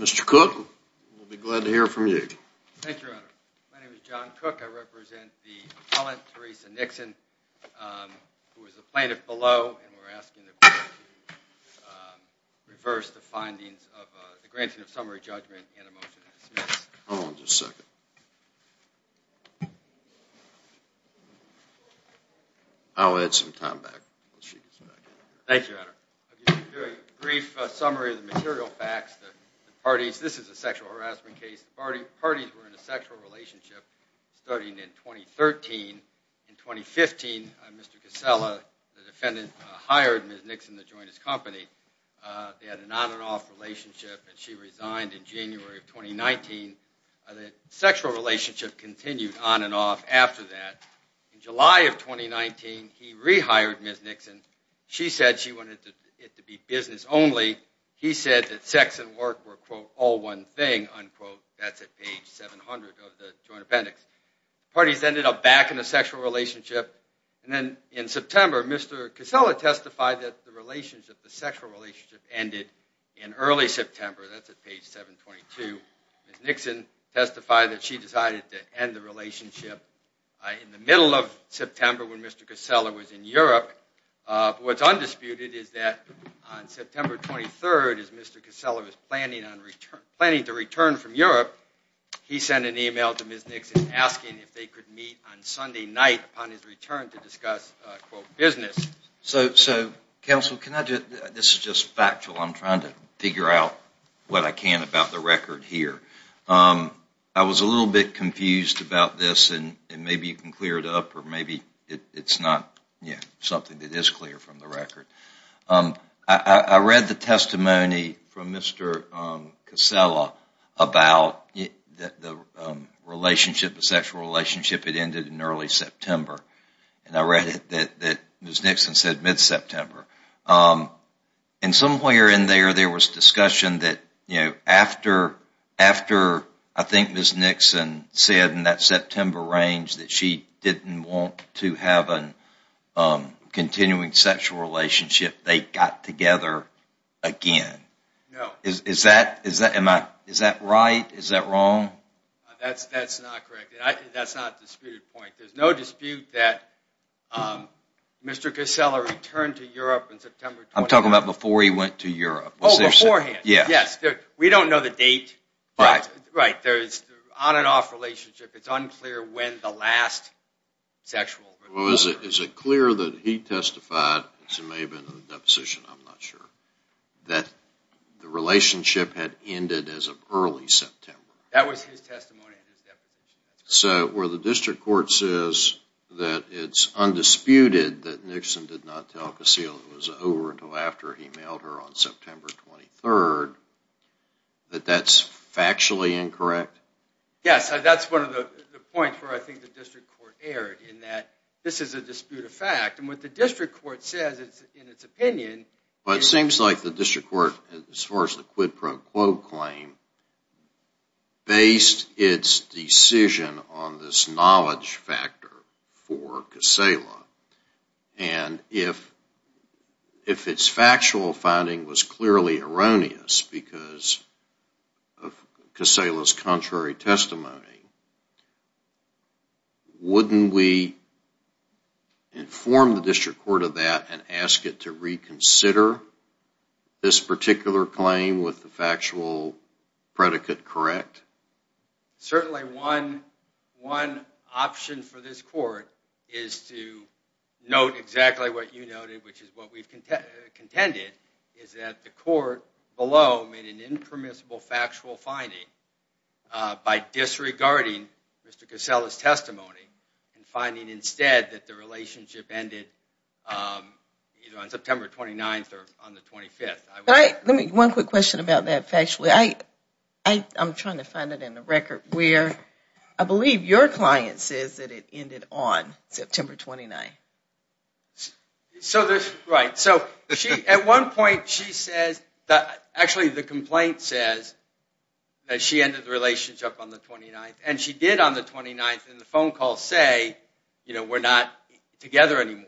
Mr. Cook, we'll be glad to hear from you. Thank you, Your Honor. My name is John Cook. I represent the appellant, Theresa Nixon, who is a plaintiff below, and we're asking the court to reverse the findings of the granting of summary judgment and a motion to dismiss. Hold on just a second. I'll add some time back. Thank you, Your Honor. A brief summary of the material facts. This is a sexual harassment case. The parties were in a sexual relationship starting in 2013. In 2015, Mr. Kysela, the defendant, hired Ms. Nixon to join his company. They had an on and off relationship, and she resigned in January of 2019. The sexual relationship continued on and off after that. In July of 2019, he rehired Ms. Nixon. She said she wanted it to be business only. He said that sex and work were, quote, all one thing, unquote. That's at page 700 of the joint appendix. The parties ended up back in a sexual relationship, and then in September, Mr. Kysela testified that the sexual relationship ended in early September. That's at page 722. Ms. Nixon testified that she decided to end the relationship. In the middle of September, when Mr. Kysela was in Europe, what's undisputed is that on September 23rd, as Mr. Kysela was planning to return from Europe, he sent an email to Ms. Nixon asking if they could meet on Sunday night upon his return to discuss, quote, business. So, counsel, can I do it? This is just factual. I'm trying to figure out what I can about the record here. I was a little bit confused about this, and maybe you can clear it up, or maybe it's not something that is clear from the record. I read the testimony from Mr. Kysela about the relationship, the sexual relationship that ended in early September, and I read it that Ms. Nixon said mid-September. And somewhere in there, there was discussion that after, I think, Ms. Nixon said in that September range that she didn't want to have a continuing sexual relationship, they got together again. Is that right? Is that wrong? That's not correct. That's not a disputed point. There's no dispute that Mr. Kysela returned to Europe in September. I'm talking about before he went to Europe. Oh, beforehand. Yes. We don't know the date. Right. Right. There's an on-and-off relationship. It's unclear when the last sexual relationship. Is it clear that he testified, as it may have been in the deposition, I'm not sure, that the relationship had ended as of early September? That was his testimony in his deposition. So, where the district court says that it's undisputed that Nixon did not tell Kysela it was over until after he mailed her on September 23rd, that that's factually incorrect? Yes. That's one of the points where I think the district court erred, in that this is a disputed fact. And what the district court says in its opinion is… Well, it seems like the district court, as far as the quid pro quo claim, based its decision on this knowledge factor for Kysela, and if its factual finding was clearly erroneous because of Kysela's contrary testimony, wouldn't we inform the district court of that and ask it to reconsider this particular claim with the factual predicate correct? Certainly one option for this court is to note exactly what you noted, which is what we've contended, is that the court below made an impermissible factual finding by disregarding Mr. Kysela's testimony and finding instead that the relationship ended either on September 29th or on the 25th. One quick question about that factually. I'm trying to find it in the record where I believe your client says that it ended on September 29th. Right. At one point she says, actually the complaint says, that she ended the relationship on the 29th. And she did on the 29th in the phone call say, you know, we're not together anymore.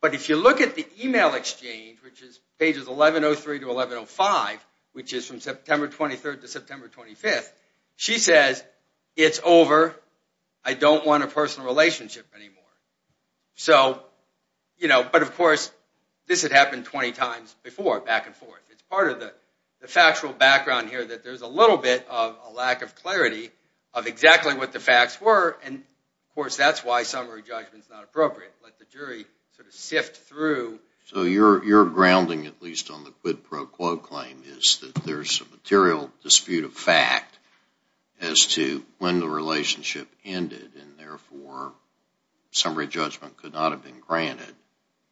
But if you look at the email exchange, which is pages 1103 to 1105, which is from September 23rd to September 25th, she says, it's over, I don't want a personal relationship anymore. So, you know, but of course, this had happened 20 times before, back and forth. It's part of the factual background here that there's a little bit of a lack of clarity of exactly what the facts were. And of course, that's why summary judgment is not appropriate. Let the jury sort of sift through. So your grounding, at least on the quid pro quo claim, is that there's a material dispute of fact as to when the relationship ended and therefore summary judgment could not have been granted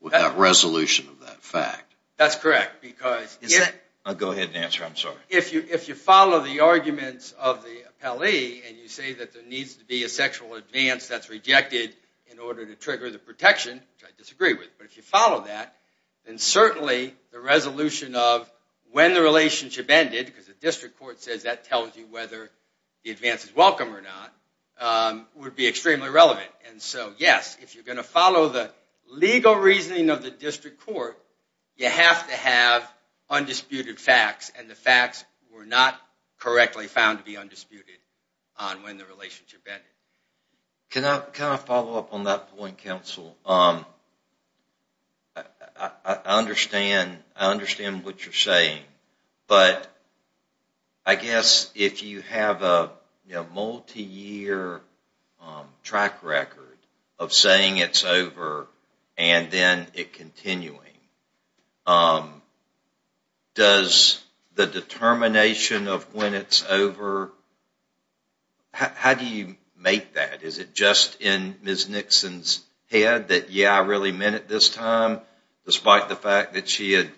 without resolution of that fact. That's correct. Go ahead and answer, I'm sorry. If you follow the arguments of the appellee and you say that there needs to be a sexual advance that's rejected in order to trigger the protection, which I disagree with, but if you follow that, then certainly the resolution of when the relationship ended, because the district court says that tells you whether the advance is welcome or not, would be extremely relevant. And so, yes, if you're going to follow the legal reasoning of the district court, you have to have undisputed facts and the facts were not correctly found to be undisputed on when the relationship ended. Can I follow up on that point, counsel? I understand what you're saying, but I guess if you have a multi-year track record of saying it's over and then it continuing, does the determination of when it's over, how do you make that? Is it just in Ms. Nixon's head that, yeah, I really meant it this time, despite the fact that she had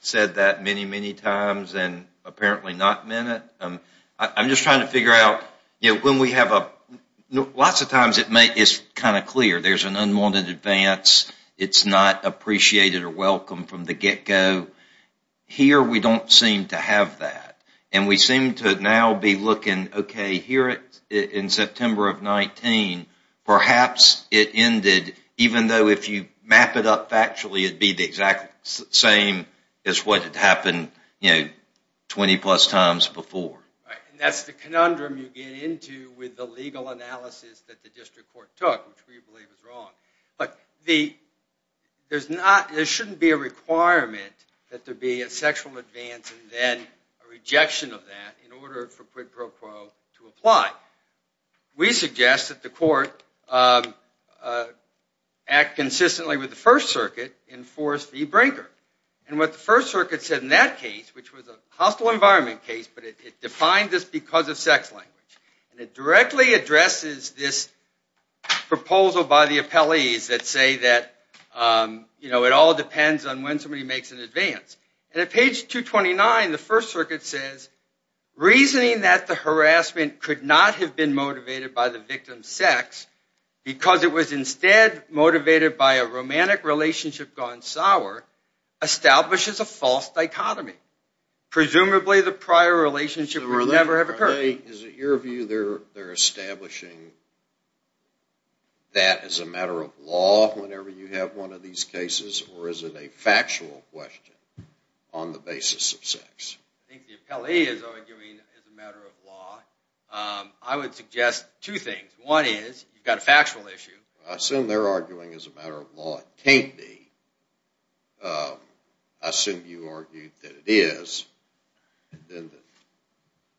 said that many, many times and apparently not meant it? I'm just trying to figure out, when we have a, lots of times it's kind of clear, there's an unwanted advance, it's not appreciated or welcome from the get-go. Here, we don't seem to have that. And we seem to now be looking, okay, here in September of 19, perhaps it ended, even though if you map it up factually, it'd be the exact same as what had happened 20 plus times before. Right, and that's the conundrum you get into with the legal analysis that the district court took, which we believe is wrong. But there shouldn't be a requirement that there be a sexual advance and then a rejection of that in order for quid pro quo to apply. We suggest that the court act consistently with the First Circuit and force the breaker. And what the First Circuit said in that case, which was a hostile environment case, but it defined this because of sex language, and it directly addresses this proposal by the appellees that say that it all depends on when somebody makes an advance. And at page 229, the First Circuit says, reasoning that the harassment could not have been motivated by the victim's sex because it was instead motivated by a romantic relationship gone sour establishes a false dichotomy. Presumably, the prior relationship would never have occurred. Larry, is it your view they're establishing that as a matter of law whenever you have one of these cases, or is it a factual question on the basis of sex? I think the appellee is arguing it's a matter of law. I would suggest two things. One is, you've got a factual issue. I assume they're arguing it's a matter of law. It can't be. I assume you argue that it is. The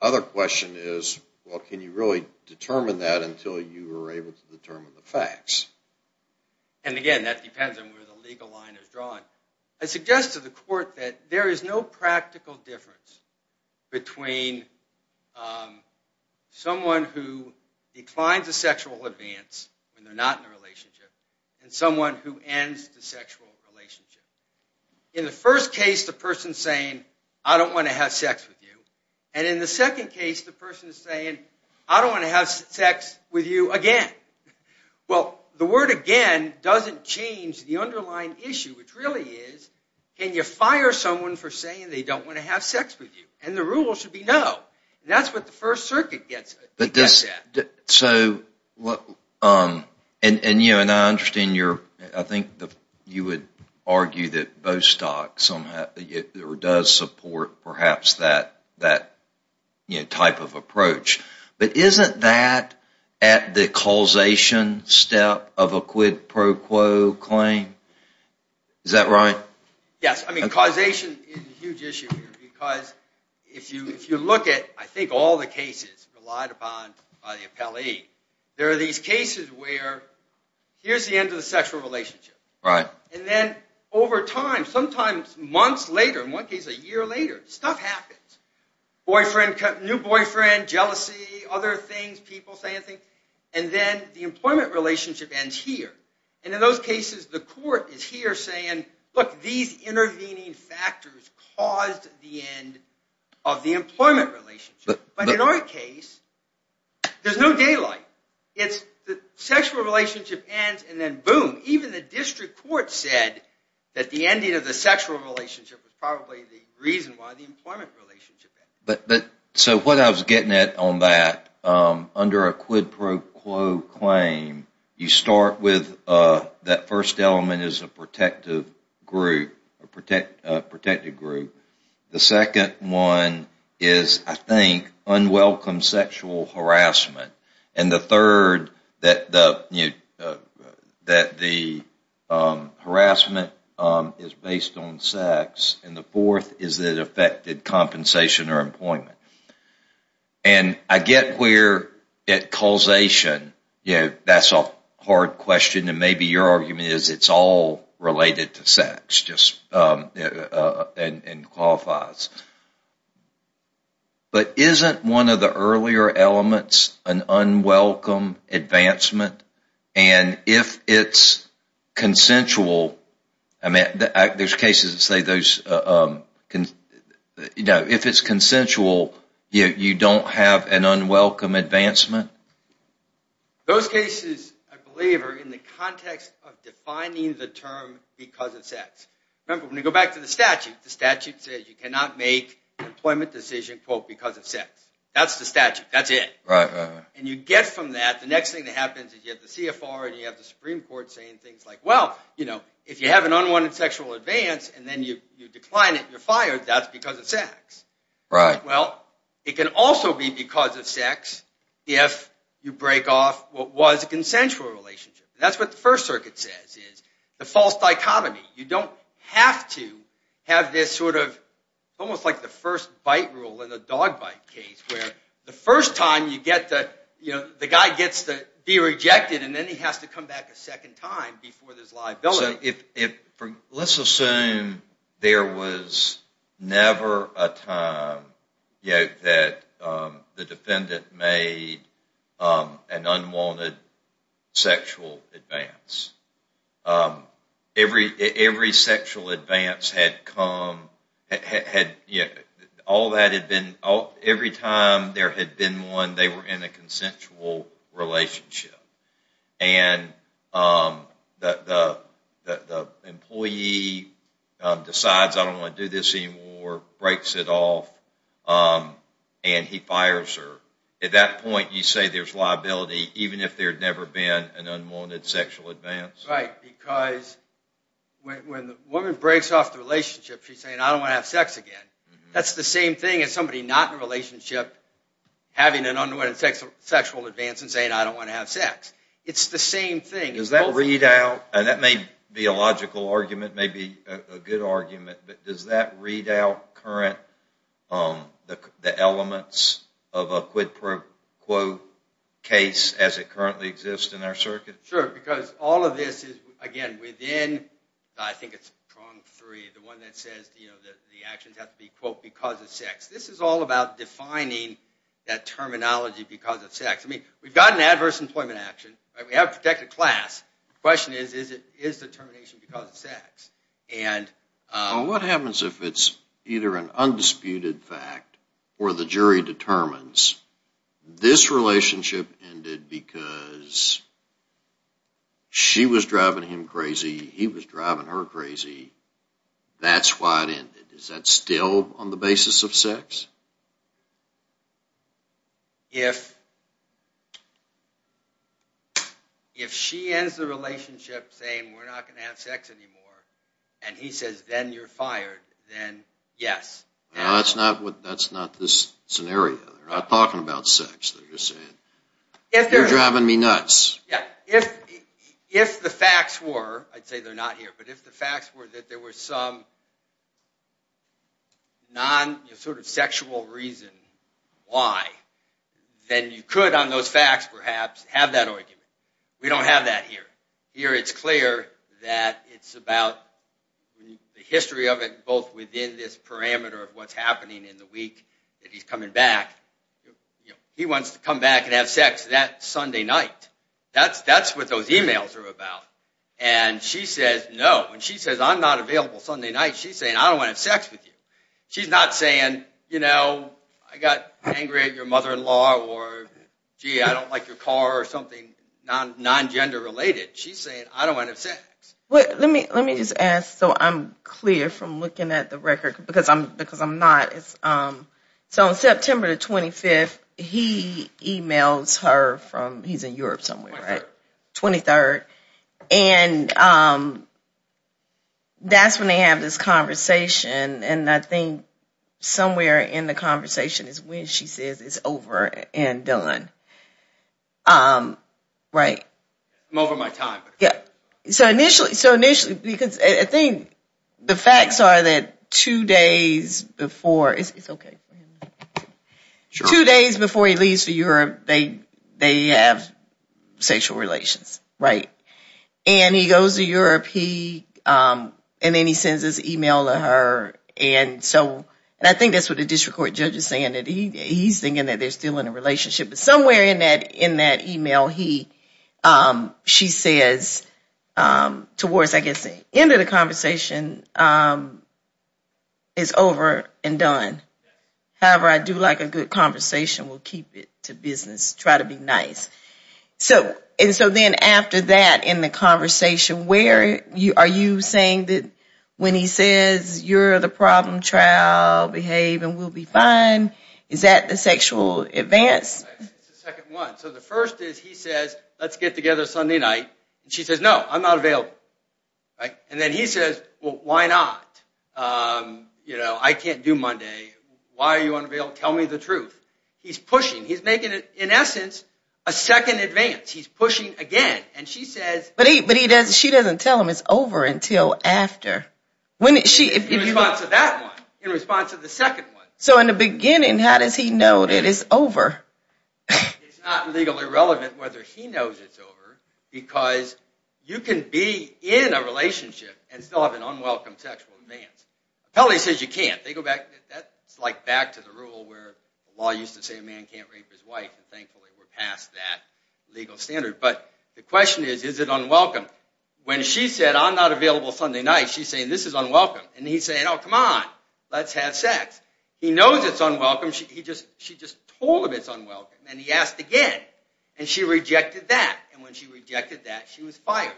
other question is, well, can you really determine that until you are able to determine the facts? And again, that depends on where the legal line is drawn. I suggest to the court that there is no practical difference between someone who declines a sexual advance when they're not in a relationship and someone who ends the sexual relationship. In the first case, the person's saying, I don't want to have sex with you. And in the second case, the person's saying, I don't want to have sex with you again. Well, the word again doesn't change the underlying issue, which really is, can you fire someone for saying they don't want to have sex with you? And the rule should be no. That's what the First Circuit gets at. And I understand you're, I think you would argue that Bostock does support perhaps that type of approach. But isn't that at the causation step of a quid pro quo claim? Is that right? Yes. I mean, causation is a huge issue here because if you look at, I think, all the cases relied upon by the appellee, there are these cases where here's the end of the sexual relationship. And then over time, sometimes months later, in one case a year later, stuff happens. Boyfriend, new boyfriend, jealousy, other things, people saying things. And then the employment relationship ends here. And in those cases, the court is here saying, look, these intervening factors caused the end of the employment relationship. But in our case, there's no daylight. The sexual relationship ends and then boom, even the district court said that the ending of the sexual relationship was probably the reason why the employment relationship ended. So what I was getting at on that, under a quid pro quo claim, you start with that first element is a protective group. The second one is, I think, unwelcome sexual harassment. And the third, that the harassment is based on sex. And the fourth is it affected compensation or employment. And I get where at causation, that's a hard question, and maybe your argument is it's all related to sex and qualifies. But isn't one of the earlier elements an unwelcome advancement? And if it's consensual, I mean, there's cases that say those, if it's consensual, you don't have an unwelcome advancement? Those cases, I believe, are in the context of defining the term because it's sex. Remember, when you go back to the statute, the statute says you cannot make an employment decision quote, because of sex. That's the statute. That's it. And you get from that, the next thing that happens is you have the CFR and you have the Supreme Court saying things like, well, if you have an unwanted sexual advance and then you decline it and you're fired, that's because of sex. Well, it can also be because of sex if you break off what was a consensual relationship. That's what the First Circuit says is the false dichotomy. You don't have to have this sort of, almost like the first bite rule in the dog bite case where the first time you get the, the guy gets to be rejected and then he has to come back a second time before there's liability. Well, let's assume there was never a time that the defendant made an unwanted sexual advance. Every sexual advance had come, every time there had been one, they were in a consensual relationship. And the employee decides, I don't want to do this anymore, breaks it off, and he fires her. At that point, you say there's liability even if there had never been an unwanted sexual advance. Right, because when the woman breaks off the relationship, she's saying, I don't want to have sex again. That's the same thing as somebody not in a relationship having an unwanted sexual advance and saying, I don't want to have sex. It's the same thing. Does that read out, and that may be a logical argument, may be a good argument, but does that read out current, the elements of a quid pro quo case as it currently exists in our circuit? Sure, because all of this is, again, within, I think it's prong three, the one that says the actions have to be, quote, because of sex. This is all about defining that terminology because of sex. I mean, we've got an adverse employment action. We have protected class. The question is, is the termination because of sex? What happens if it's either an undisputed fact or the jury determines this relationship ended because she was driving him crazy, he was driving her crazy, that's why it ended? Is that still on the basis of sex? If she ends the relationship saying, we're not going to have sex anymore and he says, then you're fired, then yes. That's not this scenario. They're not talking about sex. They're just saying, you're driving me nuts. If the facts were, I'd say they're not here, but if the facts were that there was some non-sexual reason why, then you could on those facts perhaps have that argument. We don't have that here. Here it's clear that it's about the history of it both within this parameter of what's happening in the week that he's coming back. He wants to come back and have sex that Sunday night. That's what those emails are about. And she says, no. When she says, I'm not available Sunday night, she's saying, I don't want to have sex with you. She's not saying, you know, I got angry at your mother-in-law or, gee, I don't like your car or something non-gender related. She's saying, I don't want to have sex. Let me just ask so I'm clear from looking at the record because I'm not. So on September 25th, he emails her from, he's in Europe somewhere, right? 23rd. And that's when they have this conversation and I think somewhere in the conversation is when she says it's over and done. Right. I'm over my time. So initially, because I think the facts are that two days before, it's okay. Two days before he leaves for Europe, they have sexual relations, right? And he goes to Europe and then he sends this email to her and I think that's what the district court judge is saying. He's thinking that they're still in a relationship. Somewhere in that email, she says towards, I guess, the end of the conversation it's over and done. However, I do like a good conversation. We'll keep it to business. Try to be nice. And so then after that in the conversation, are you saying that when he says you're the problem child, behave and we'll be fine, is that the sexual advance? So the first is he says, let's get together Sunday night. She says, no, I'm not available. And then he says, well, why not? I can't do Monday. Why are you unavailable? Tell me the truth. He's pushing. He's making, in essence, a second advance. He's pushing again. But she doesn't tell him it's over until after. In response to that one. In response to the second one. So in the beginning, how does he know that it's over? It's not legally relevant whether he knows it's over because you can be in a relationship and still have an unwelcome sexual advance. Appellee says you can't. That's like back to the rule where the law used to say a man can't rape his wife and thankfully we're past that legal standard. But the question is, is it unwelcome? When she said, I'm not available Sunday night, she's saying this is unwelcome. And he's saying, oh, come on. Let's have sex. He knows it's unwelcome. She just told him it's unwelcome. And he asked again. And she rejected that. And when she rejected that, she was fired.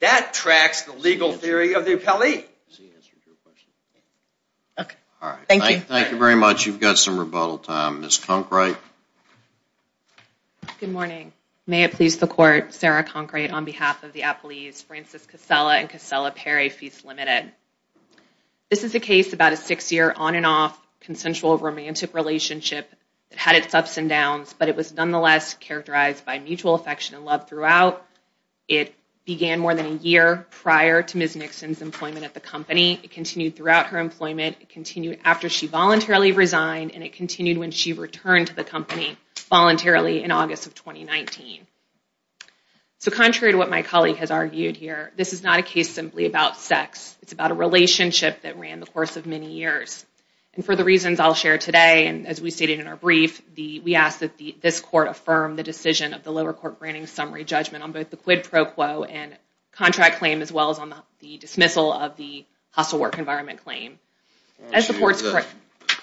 That tracks the legal theory of the appellee. Thank you very much. You've got some rebuttal time. Ms. Conkright. Good morning. May it please the court, Sarah Conkright on behalf of the appellees, Frances Casella and Casella Perry, Feast Limited. This is a case about a six year on and off consensual romantic relationship that had its ups and downs, but it was nonetheless characterized by mutual affection and love throughout. It began more than a year prior to Ms. Nixon's employment at the company. It continued throughout her employment. It continued after she voluntarily resigned and it continued when she returned to the company voluntarily in August of 2019. So contrary to what my colleague has argued here, this is not a case simply about sex. It's about a relationship that ran the course of many years. And for the reasons I'll share today and as we stated in our brief, we ask that this court affirm the decision of the lower court granting summary judgment on both the quid pro quo and contract claim as well as on the dismissal of the hostile work environment claim. The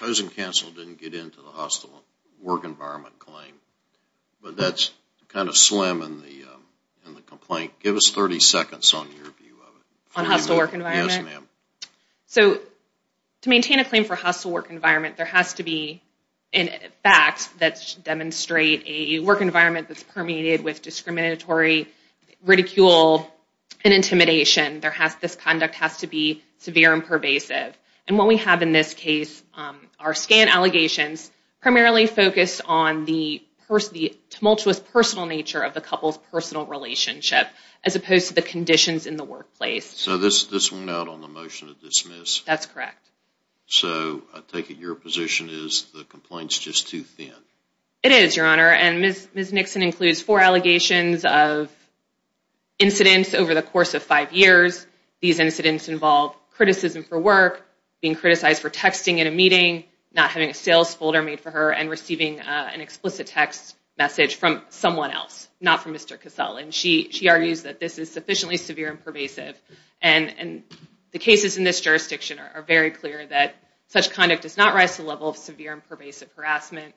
opposing counsel didn't get into the hostile work environment claim. But that's kind of slim in the complaint. Give us 30 seconds on your view of it. On hostile work environment? Yes, ma'am. So to maintain a claim for hostile work environment, there has to be facts that demonstrate a work environment that's permeated with discriminatory ridicule and intimidation. This conduct has to be severe and pervasive. And what we have in this case are scan allegations primarily focused on the tumultuous personal nature of the couple's personal relationship as opposed to the conditions in the workplace. So this went out on the motion to dismiss. That's correct. So I take it your position is the complaint's just too thin. It is, Your Honor. And Ms. Nixon includes four allegations of incidents over the course of five years. These incidents involve criticism for work, being criticized for texting in a meeting, not having a sales folder made for her, and receiving an explicit text message from someone else, not from Mr. Casale. And she argues that this is sufficiently severe and pervasive. And the cases in this jurisdiction are very clear that such conduct does not rise to the level of severe and pervasive harassment.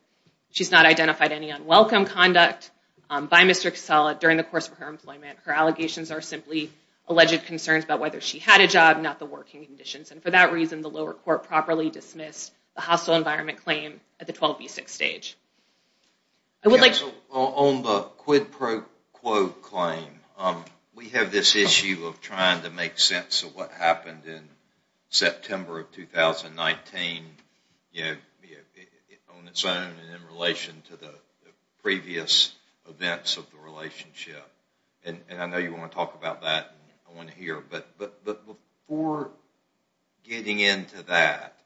She's not identified any unwelcome conduct by Mr. Casale during the course of her employment. Her allegations are simply alleged concerns about whether she had a job, not the working conditions. And for that reason, the lower court properly dismissed the hostile environment claim at the 12B6 stage. On the quid pro quo claim, we have this issue of trying to make sense of what happened in September of 2019 on its own and in relation to the previous events of the relationship. And I know you want to talk about that and I want to hear. But before getting into that,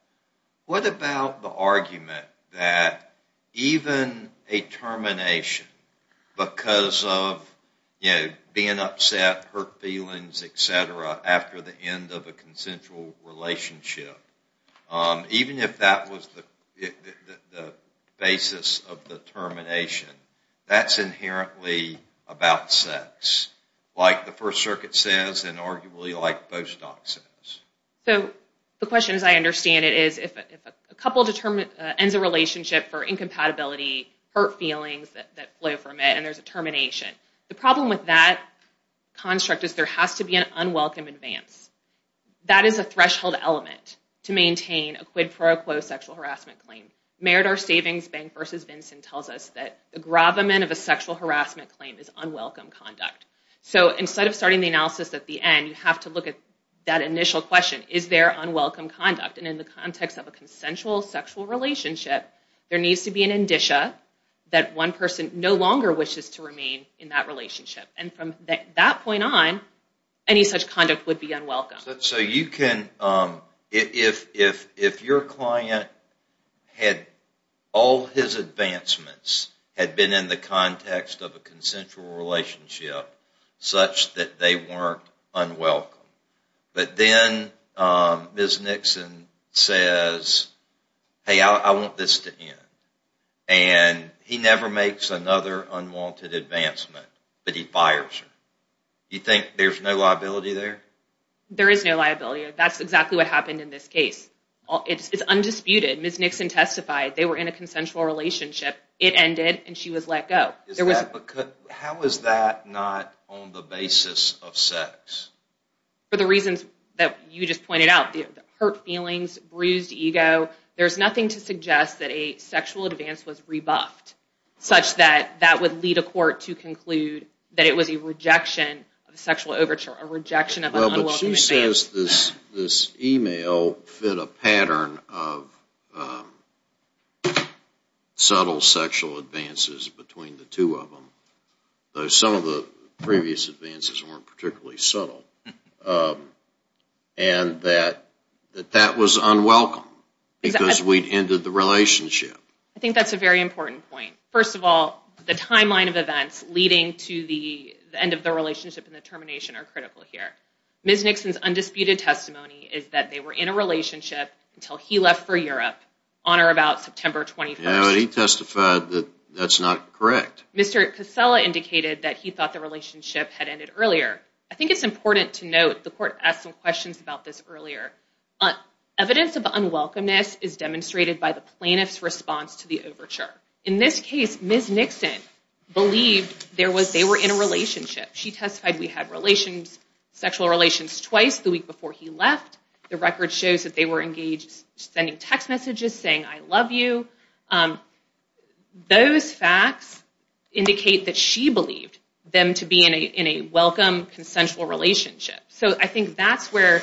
what about the argument that even a termination because of being upset, hurt feelings, etc., after the end of a consensual relationship, even if that was the basis of the termination, that's inherently about sex, like the First Circuit says and arguably like post-doc says. So the question, as I understand it, is if a couple ends a relationship for incompatibility, hurt feelings that flow from it, and there's a termination, the problem with that construct is there has to be an unwelcome advance. That is a threshold element to maintain a quid pro quo sexual harassment claim. Meritor Savings Bank v. Vincent tells us that the gravamen of a sexual harassment claim is unwelcome conduct. So instead of starting the analysis at the end, you have to look at that initial question, is there unwelcome conduct? And in the context of a consensual sexual relationship, there needs to be an indicia that one person no longer wishes to remain in that relationship. And from that point on, any such conduct would be unwelcome. If your client had all his advancements had been in the context of a consensual relationship such that they weren't unwelcome, but then Ms. Nixon says, hey, I want this to end, and he never makes another unwanted advancement, but he fires her. You think there's no liability there? There is no liability. That's exactly what happened in this case. It's undisputed. Ms. Nixon testified they were in a consensual relationship, it ended, and she was let go. How is that not on the basis of sex? For the reasons that you just pointed out, hurt feelings, bruised ego, there's nothing to suggest that a that would lead a court to conclude that it was a rejection of a sexual overture, a rejection of an unwelcome advancement. Well, but she says this email fit a pattern of subtle sexual advances between the two of them, though some of the previous advances weren't particularly subtle. And that that was unwelcome because we'd ended the relationship. I think that's a very important point. First of all, the timeline of events leading to the end of the relationship and the termination are critical here. Ms. Nixon's undisputed testimony is that they were in a relationship until he left for Europe on or about September 21st. Yeah, but he testified that that's not correct. Mr. Casella indicated that he thought the relationship had ended earlier. I think it's important to note, the court asked some questions about this earlier, evidence of unwelcomeness is demonstrated by the plaintiff's response to the overture. In this case, Ms. Nixon believed they were in a relationship. She testified we had sexual relations twice the week before he left. The record shows that they were engaged sending text messages saying, I love you. Those facts indicate that she believed them to be in a welcome, consensual relationship. So I think that's where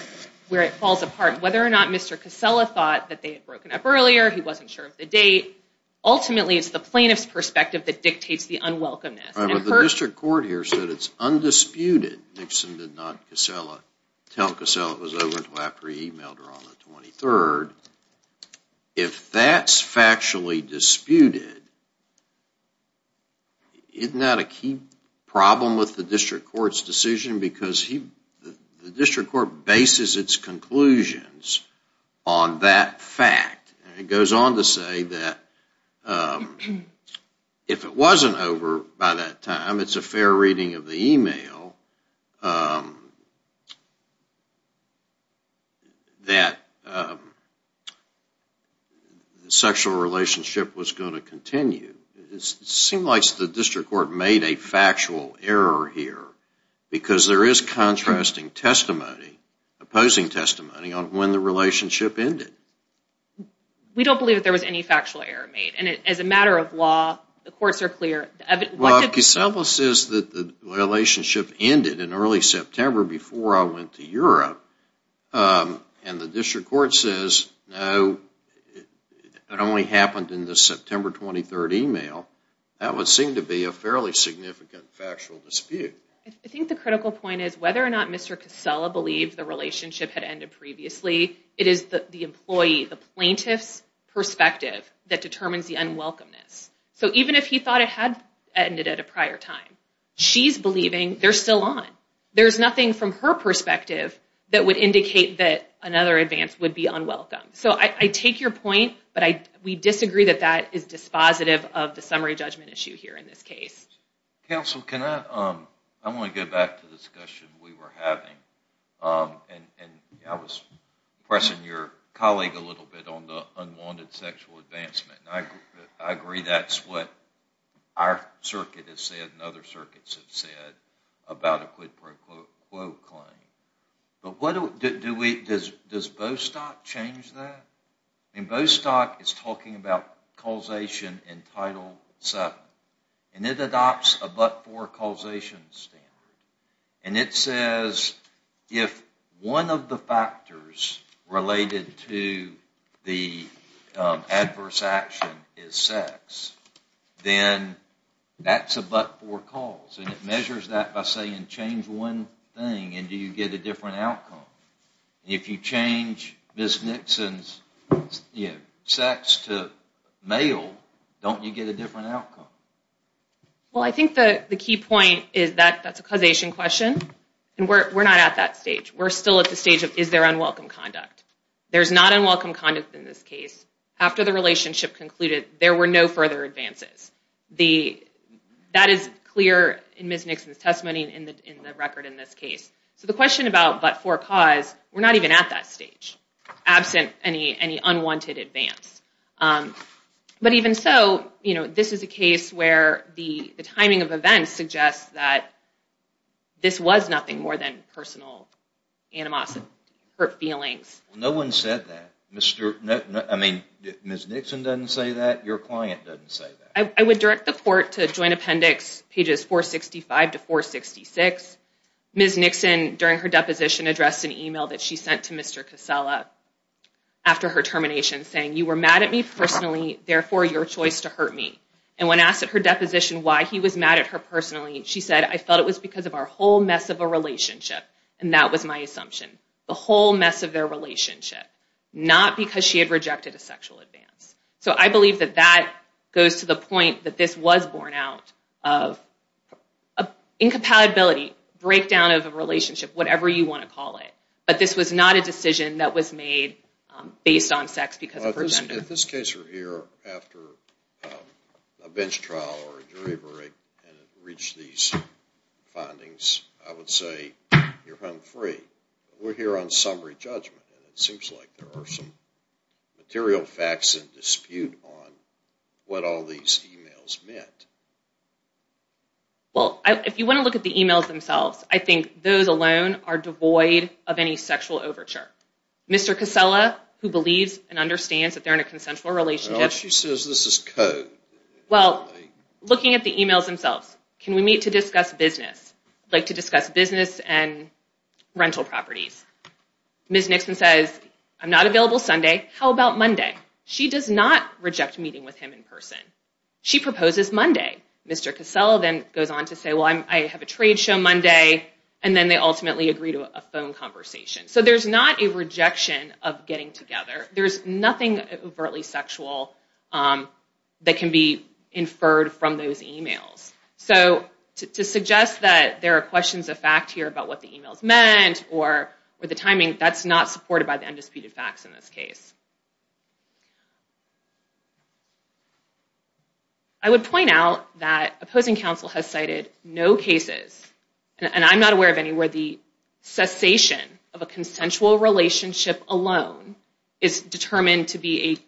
it falls apart. Whether or not Mr. Casella thought that they had broken up earlier, he wasn't sure of the date, ultimately it's the plaintiff's perspective that dictates the unwelcomeness. The district court here said it's undisputed. Nixon did not tell Casella it was over until after he emailed her on the 23rd. If that's factually disputed, isn't that a key problem with the district court's decision? Because the district court bases its conclusions on that fact. It goes on to say that if it wasn't over by that time, it's a fair reading of the email that the sexual relationship was going to continue. It seems like the district court made a factual error here because there is contrasting testimony, opposing testimony on when the relationship ended. We don't believe that there was any factual error made. As a matter of law, the courts are clear. Casella says that the relationship ended in early September before I went to Europe and the district court says no, it only happened in the early September. I think the critical point is whether or not Mr. Casella believed the relationship had ended previously, it is the employee, the plaintiff's perspective that determines the unwelcomeness. So even if he thought it had ended at a prior time, she's believing they're still on. There's nothing from her perspective that would indicate that another advance would be unwelcome. I take your point, but we disagree that that is dispositive of the summary judgment issue here in this case. Counsel, I want to go back to the discussion we were having. I was pressing your colleague a little bit on the unwanted sexual advancement. I agree that's what our circuit has said and other circuits have said about a quid pro quo claim. Does Bostock change that? Bostock is talking about causation in Title VII. It adopts a but-for causation standard. It says if one of the factors related to the adverse action is sex, then that's a but-for cause. It measures that by saying change one thing and you get a different outcome. If you change Ms. Nixon's sex to male, don't you get a different outcome? Well, I think the key point is that that's a causation question and we're not at that stage. We're still at the stage of is there unwelcome conduct? There's not unwelcome conduct in this case. After the relationship concluded, there were no further advances. That is clear in Ms. Nixon's testimony and in the record in this case. So the question about but-for cause, we're not even at that stage, absent any unwanted advance. But even so, this is a case where the timing of events suggests that this was nothing more than personal animosity or feelings. No one said that. Ms. Nixon doesn't say that. Your client doesn't say that. I would direct the court to Ms. Nixon during her deposition addressed an email that she sent to Mr. Casella after her termination saying you were mad at me personally, therefore your choice to hurt me. And when asked at her deposition why he was mad at her personally, she said I felt it was because of our whole mess of a relationship. And that was my assumption. The whole mess of their relationship. Not because she had rejected a sexual advance. So I believe that that goes to the point that this was borne out of a incompatibility, breakdown of a relationship, whatever you want to call it. But this was not a decision that was made based on sex because of her gender. If this case were here after a bench trial or a jury break and it reached these findings, I would say you're hung free. We're here on summary judgment and it seems like there are some material facts in dispute on what all these emails meant. Well, if you want to look at the emails themselves, I think those alone are devoid of any sexual overture. Mr. Casella, who believes and understands that they're in a consensual relationship. Well, looking at the emails themselves, can we meet to discuss business? I'd like to discuss business and rental properties. Ms. Nixon says I'm not available Sunday. How about Monday? She does not reject meeting with him in person. She proposes Monday. Mr. Casella then goes on to say I have a trade show Monday and then they ultimately agree to a phone conversation. So there's not a rejection of getting together. There's nothing overtly sexual that can be inferred from those emails. So to suggest that there are questions of fact here about what the emails meant or the timing, that's not supported by the undisputed facts in this case. I would point out that opposing counsel has cited no cases, and I'm not aware of any, where the cessation of a consensual relationship alone is determined to be an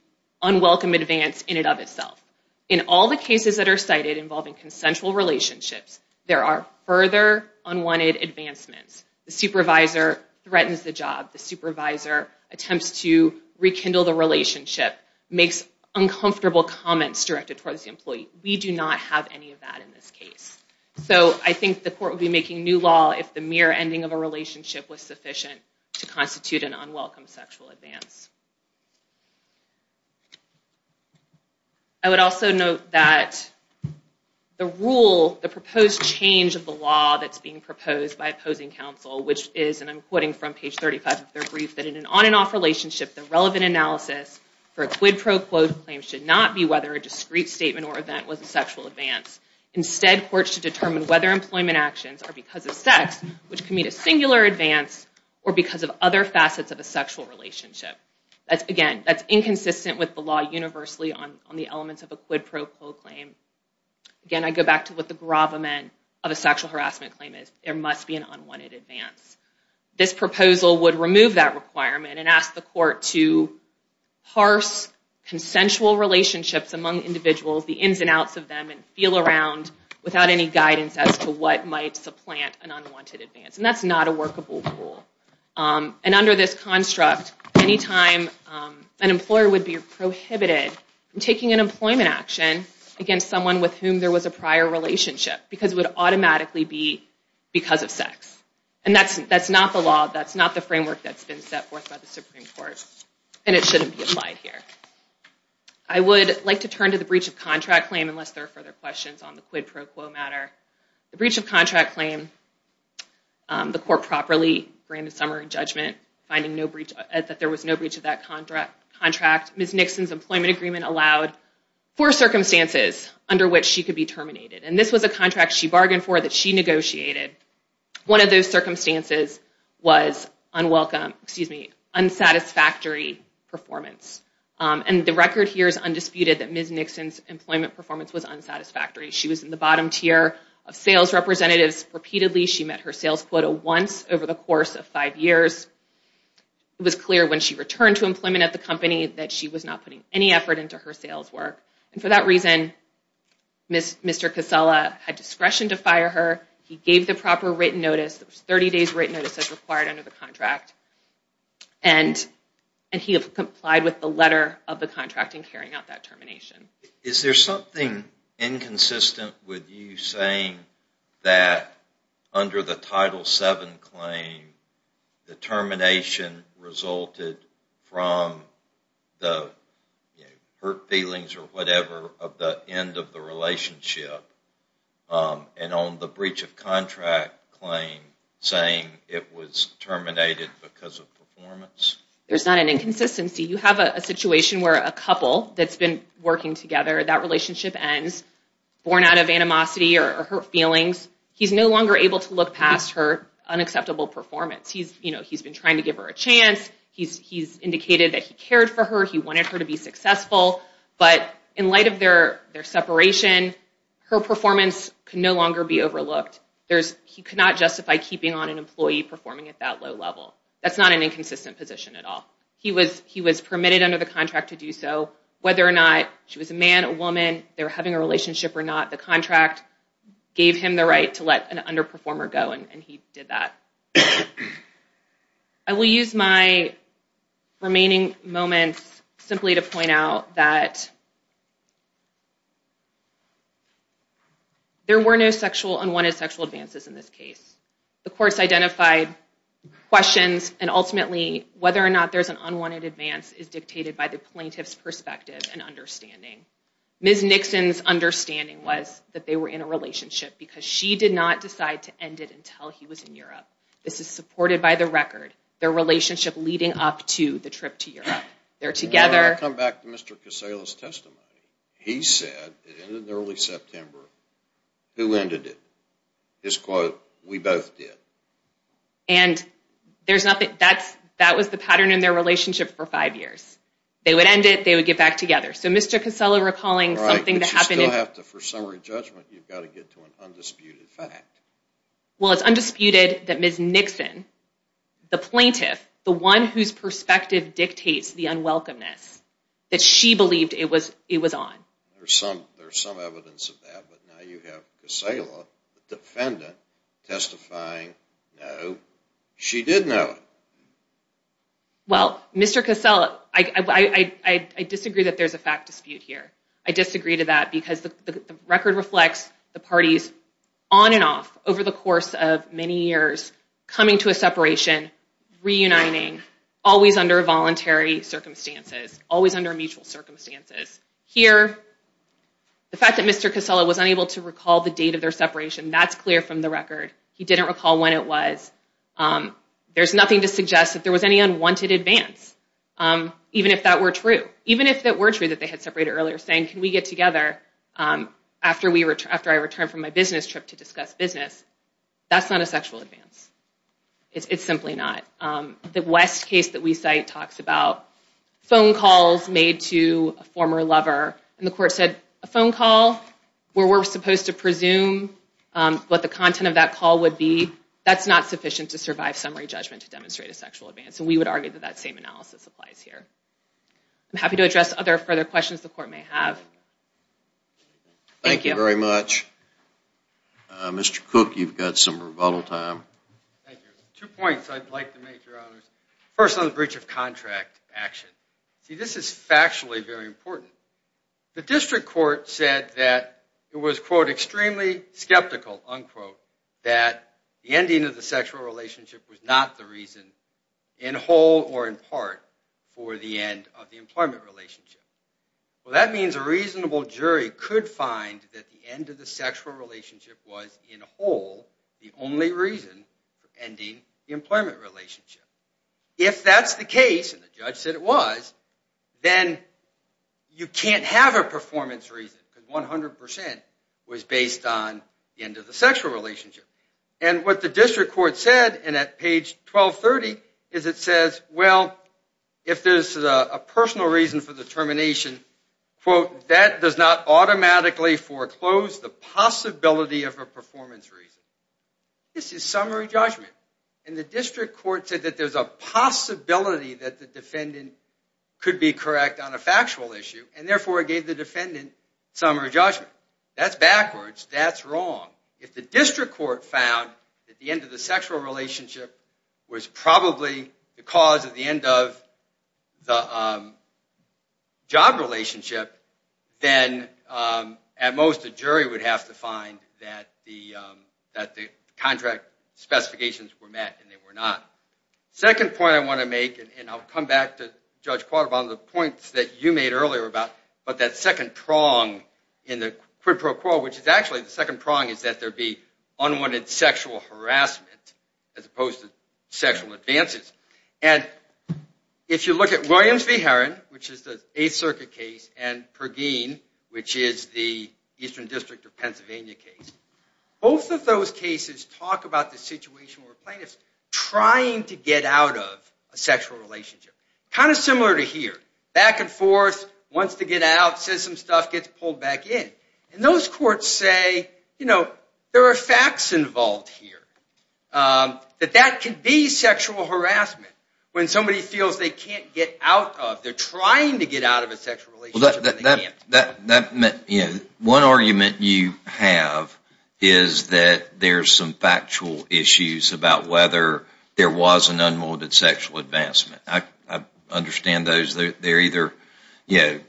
unwelcome advance in and of itself. In all the cases that are cited involving consensual relationships, there are further unwanted advancements. The supervisor threatens the job. The supervisor attempts to rekindle the relationship, makes uncomfortable comments directed towards the employee. We do not have any of that in this case. So I think the court would be making new law if the mere ending of a relationship was sufficient to constitute an unwelcome sexual advance. I would also note that the rule, the proposed change of the law that's being proposed by opposing counsel, which is, and I'm quoting from page 35 of their brief, that in an on and off relationship, the relevant analysis for a quid pro quo claim should not be whether a discreet statement or event was a sexual advance. Instead, courts should determine whether employment actions are because of sex, which can mean a singular advance, or because of other facets of a sexual relationship. Again, that's inconsistent with the law universally on the elements of a quid pro quo claim. Again, I go back to what the gravamen of a sexual harassment claim is. There must be an unwanted advance. This proposal would remove that requirement and ask the court to parse consensual relationships among individuals, the ins and outs of them, and feel around without any guidance as to what might supplant an unwanted advance. And that's not a workable rule. And under this construct, any time an employer would be prohibited from taking an employment action against someone with whom there was a prior relationship, because it would automatically be because of sex. And that's not the law. That's not the framework that's been set forth by the Supreme Court. And it shouldn't be applied here. I would like to turn to the breach of contract claim, unless there are further questions on the quid pro quo matter. The breach of contract claim, the court properly granted summary judgment that there was no contract. Ms. Nixon's employment agreement allowed four circumstances under which she could be terminated. And this was a contract she bargained for that she negotiated. One of those circumstances was unsatisfactory performance. And the record here is undisputed that Ms. Nixon's employment performance was unsatisfactory. She was in the bottom tier of sales representatives repeatedly. She met her sales quota once over the course of five years. It was clear when she returned to employment at the company that she was not putting any effort into her sales work. And for that reason, Mr. Casella had discretion to fire her. He gave the proper written notice. It was 30 days written notice as required under the contract. And he complied with the letter of the contract in carrying out that termination. Is there something inconsistent with you saying that under the termination resulted from the hurt feelings or whatever of the end of the relationship and on the breach of contract claim saying it was terminated because of performance? There's not an inconsistency. You have a situation where a couple that's been working together, that relationship ends, born out of animosity or hurt feelings. He's no longer able to look past her unacceptable performance. He's been trying to give her a chance. He's indicated that he cared for her. He wanted her to be successful. But in light of their separation, her performance could no longer be overlooked. He could not justify keeping on an employee performing at that low level. That's not an inconsistent position at all. He was permitted under the contract to do so. Whether or not she was a man, a woman, they were having a relationship or not, the contract gave him the right to let an underperformer go and he did that. I will use my remaining moments simply to point out that there were no unwanted sexual advances in this case. The courts identified questions and ultimately whether or not there's an unwanted advance is dictated by the plaintiff's perspective and understanding. Ms. Nixon's understanding was that they were in a relationship because she did not decide to end it until he was in Europe. This is supported by the record. Their relationship leading up to the trip to Europe. They're together. I'll come back to Mr. Casella's testimony. He said, in early September, who ended it? His quote, we both did. That was the pattern in their relationship for five years. They would end it, they would get back together. Mr. Casella recalling something that happened... For summary judgment, you've got to get to an undisputed fact. Well, it's undisputed that Ms. Nixon, the plaintiff, the one whose perspective dictates the unwelcomeness, that she believed it was on. There's some evidence of that, but now you have Casella, the defendant, testifying, no, she did know it. Well, Mr. Casella, I disagree that there's a fact dispute here. I disagree to that because the record reflects the parties, on and off, over the course of many years, coming to a separation, reuniting, always under voluntary circumstances, always under mutual circumstances. Here, the fact that Mr. Casella was unable to recall the date of their separation, that's clear from the record. He didn't recall when it was. There's nothing to suggest that there was any unwanted advance, even if that were true. Even if it were true that they had separated earlier, saying, can we get together after I return from my business trip to discuss business? That's not a sexual advance. It's simply not. The West case that we cite talks about phone calls made to a former lover, and the court said, a phone call where we're supposed to presume what the content of that call would be, that's not sufficient to survive summary judgment to demonstrate a sexual advance. And we would argue that that same analysis applies here. I'm happy to address other further questions the court may have. Thank you very much. Mr. Cook, you've got some rebuttal time. Thank you. Two points I'd like to make, Your Honors. First, on the breach of contract action. See, this is factually very important. The district court said that it was, quote, extremely skeptical, unquote, that the ending of the sexual relationship was not the reason, in whole or in part, for the end of the employment relationship. Well, that means a reasonable jury could find that the end of the sexual relationship was, in whole, the only reason for ending the employment relationship. If that's the case, and the judge said it was, then you can't have a performance reason because 100% was based on the end of the sexual relationship. And what the district court said, and at page 1230, is it says, well, if there's a personal reason for the termination, quote, that does not automatically foreclose the possibility of a performance reason. This is summary judgment. And the district court said that there's a possibility that the defendant could be correct on a factual issue, and therefore it gave the defendant summary judgment. That's backwards. That's wrong. If the district court found that the end of the sexual relationship was probably the cause of the end of the job relationship, then, at most, the jury would have to find that the contract specifications were met, and they were not. The second point I want to make, and I'll come back to Judge Quaterbaum and the points that you made earlier about that second prong in the quid pro quo, which is actually the second prong is that there be unwanted sexual harassment as opposed to sexual advances. And if you look at Williams v. Herron, which is the Eighth Circuit case, and Pergine, which is the Eastern District of Pennsylvania case, both of those cases talk about the situation where a plaintiff's trying to get out of a sexual relationship. Kind of similar to here. Back and forth, wants to get out, says some stuff, gets pulled back in. And those courts say, there are facts involved here that that could be sexual harassment when somebody feels they can't get out of, they're trying to get out of a sexual relationship, and they can't. One argument you have is that there's some factual issues about whether there was an unwanted sexual advancement. I understand those. They're either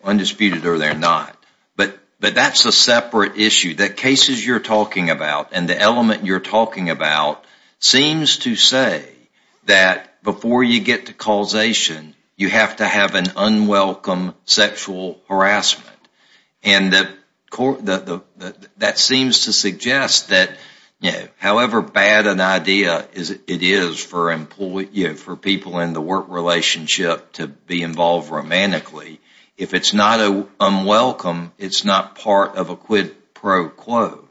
undisputed or they're not. But that's a separate issue. The cases you're talking about and the element you're talking about seems to say that before you get to causation, you have to have an unwelcome sexual harassment. And that seems to suggest that however bad an idea it is for people in the work relationship to be involved romantically, if it's not unwelcome, it's not part of a quid pro quo.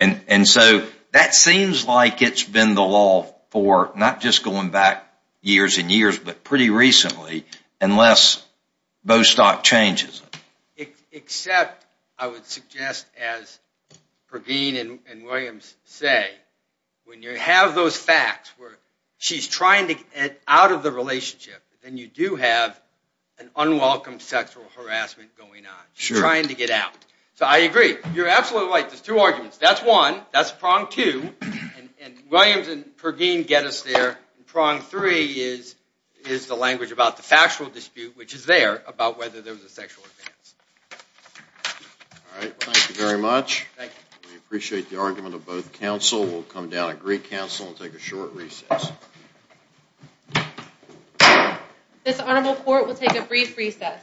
And so that seems like it's been the law for not just going back years and years, but pretty recently, unless Bostock changes it. Except, I would suggest, as Pergeen and Williams say, when you have those facts where she's trying to get out of the relationship, then you do have an unwelcome sexual harassment going on. She's trying to get out. So I agree. You're absolutely right. There's two arguments. That's one. That's prong two. Williams and Pergeen get us there. Prong three is the language about the factual dispute, which is there, about whether there was a sexual advance. Thank you very much. We appreciate the argument of both counsel. We'll come down and greet counsel and take a short recess. This honorable court will take a brief recess.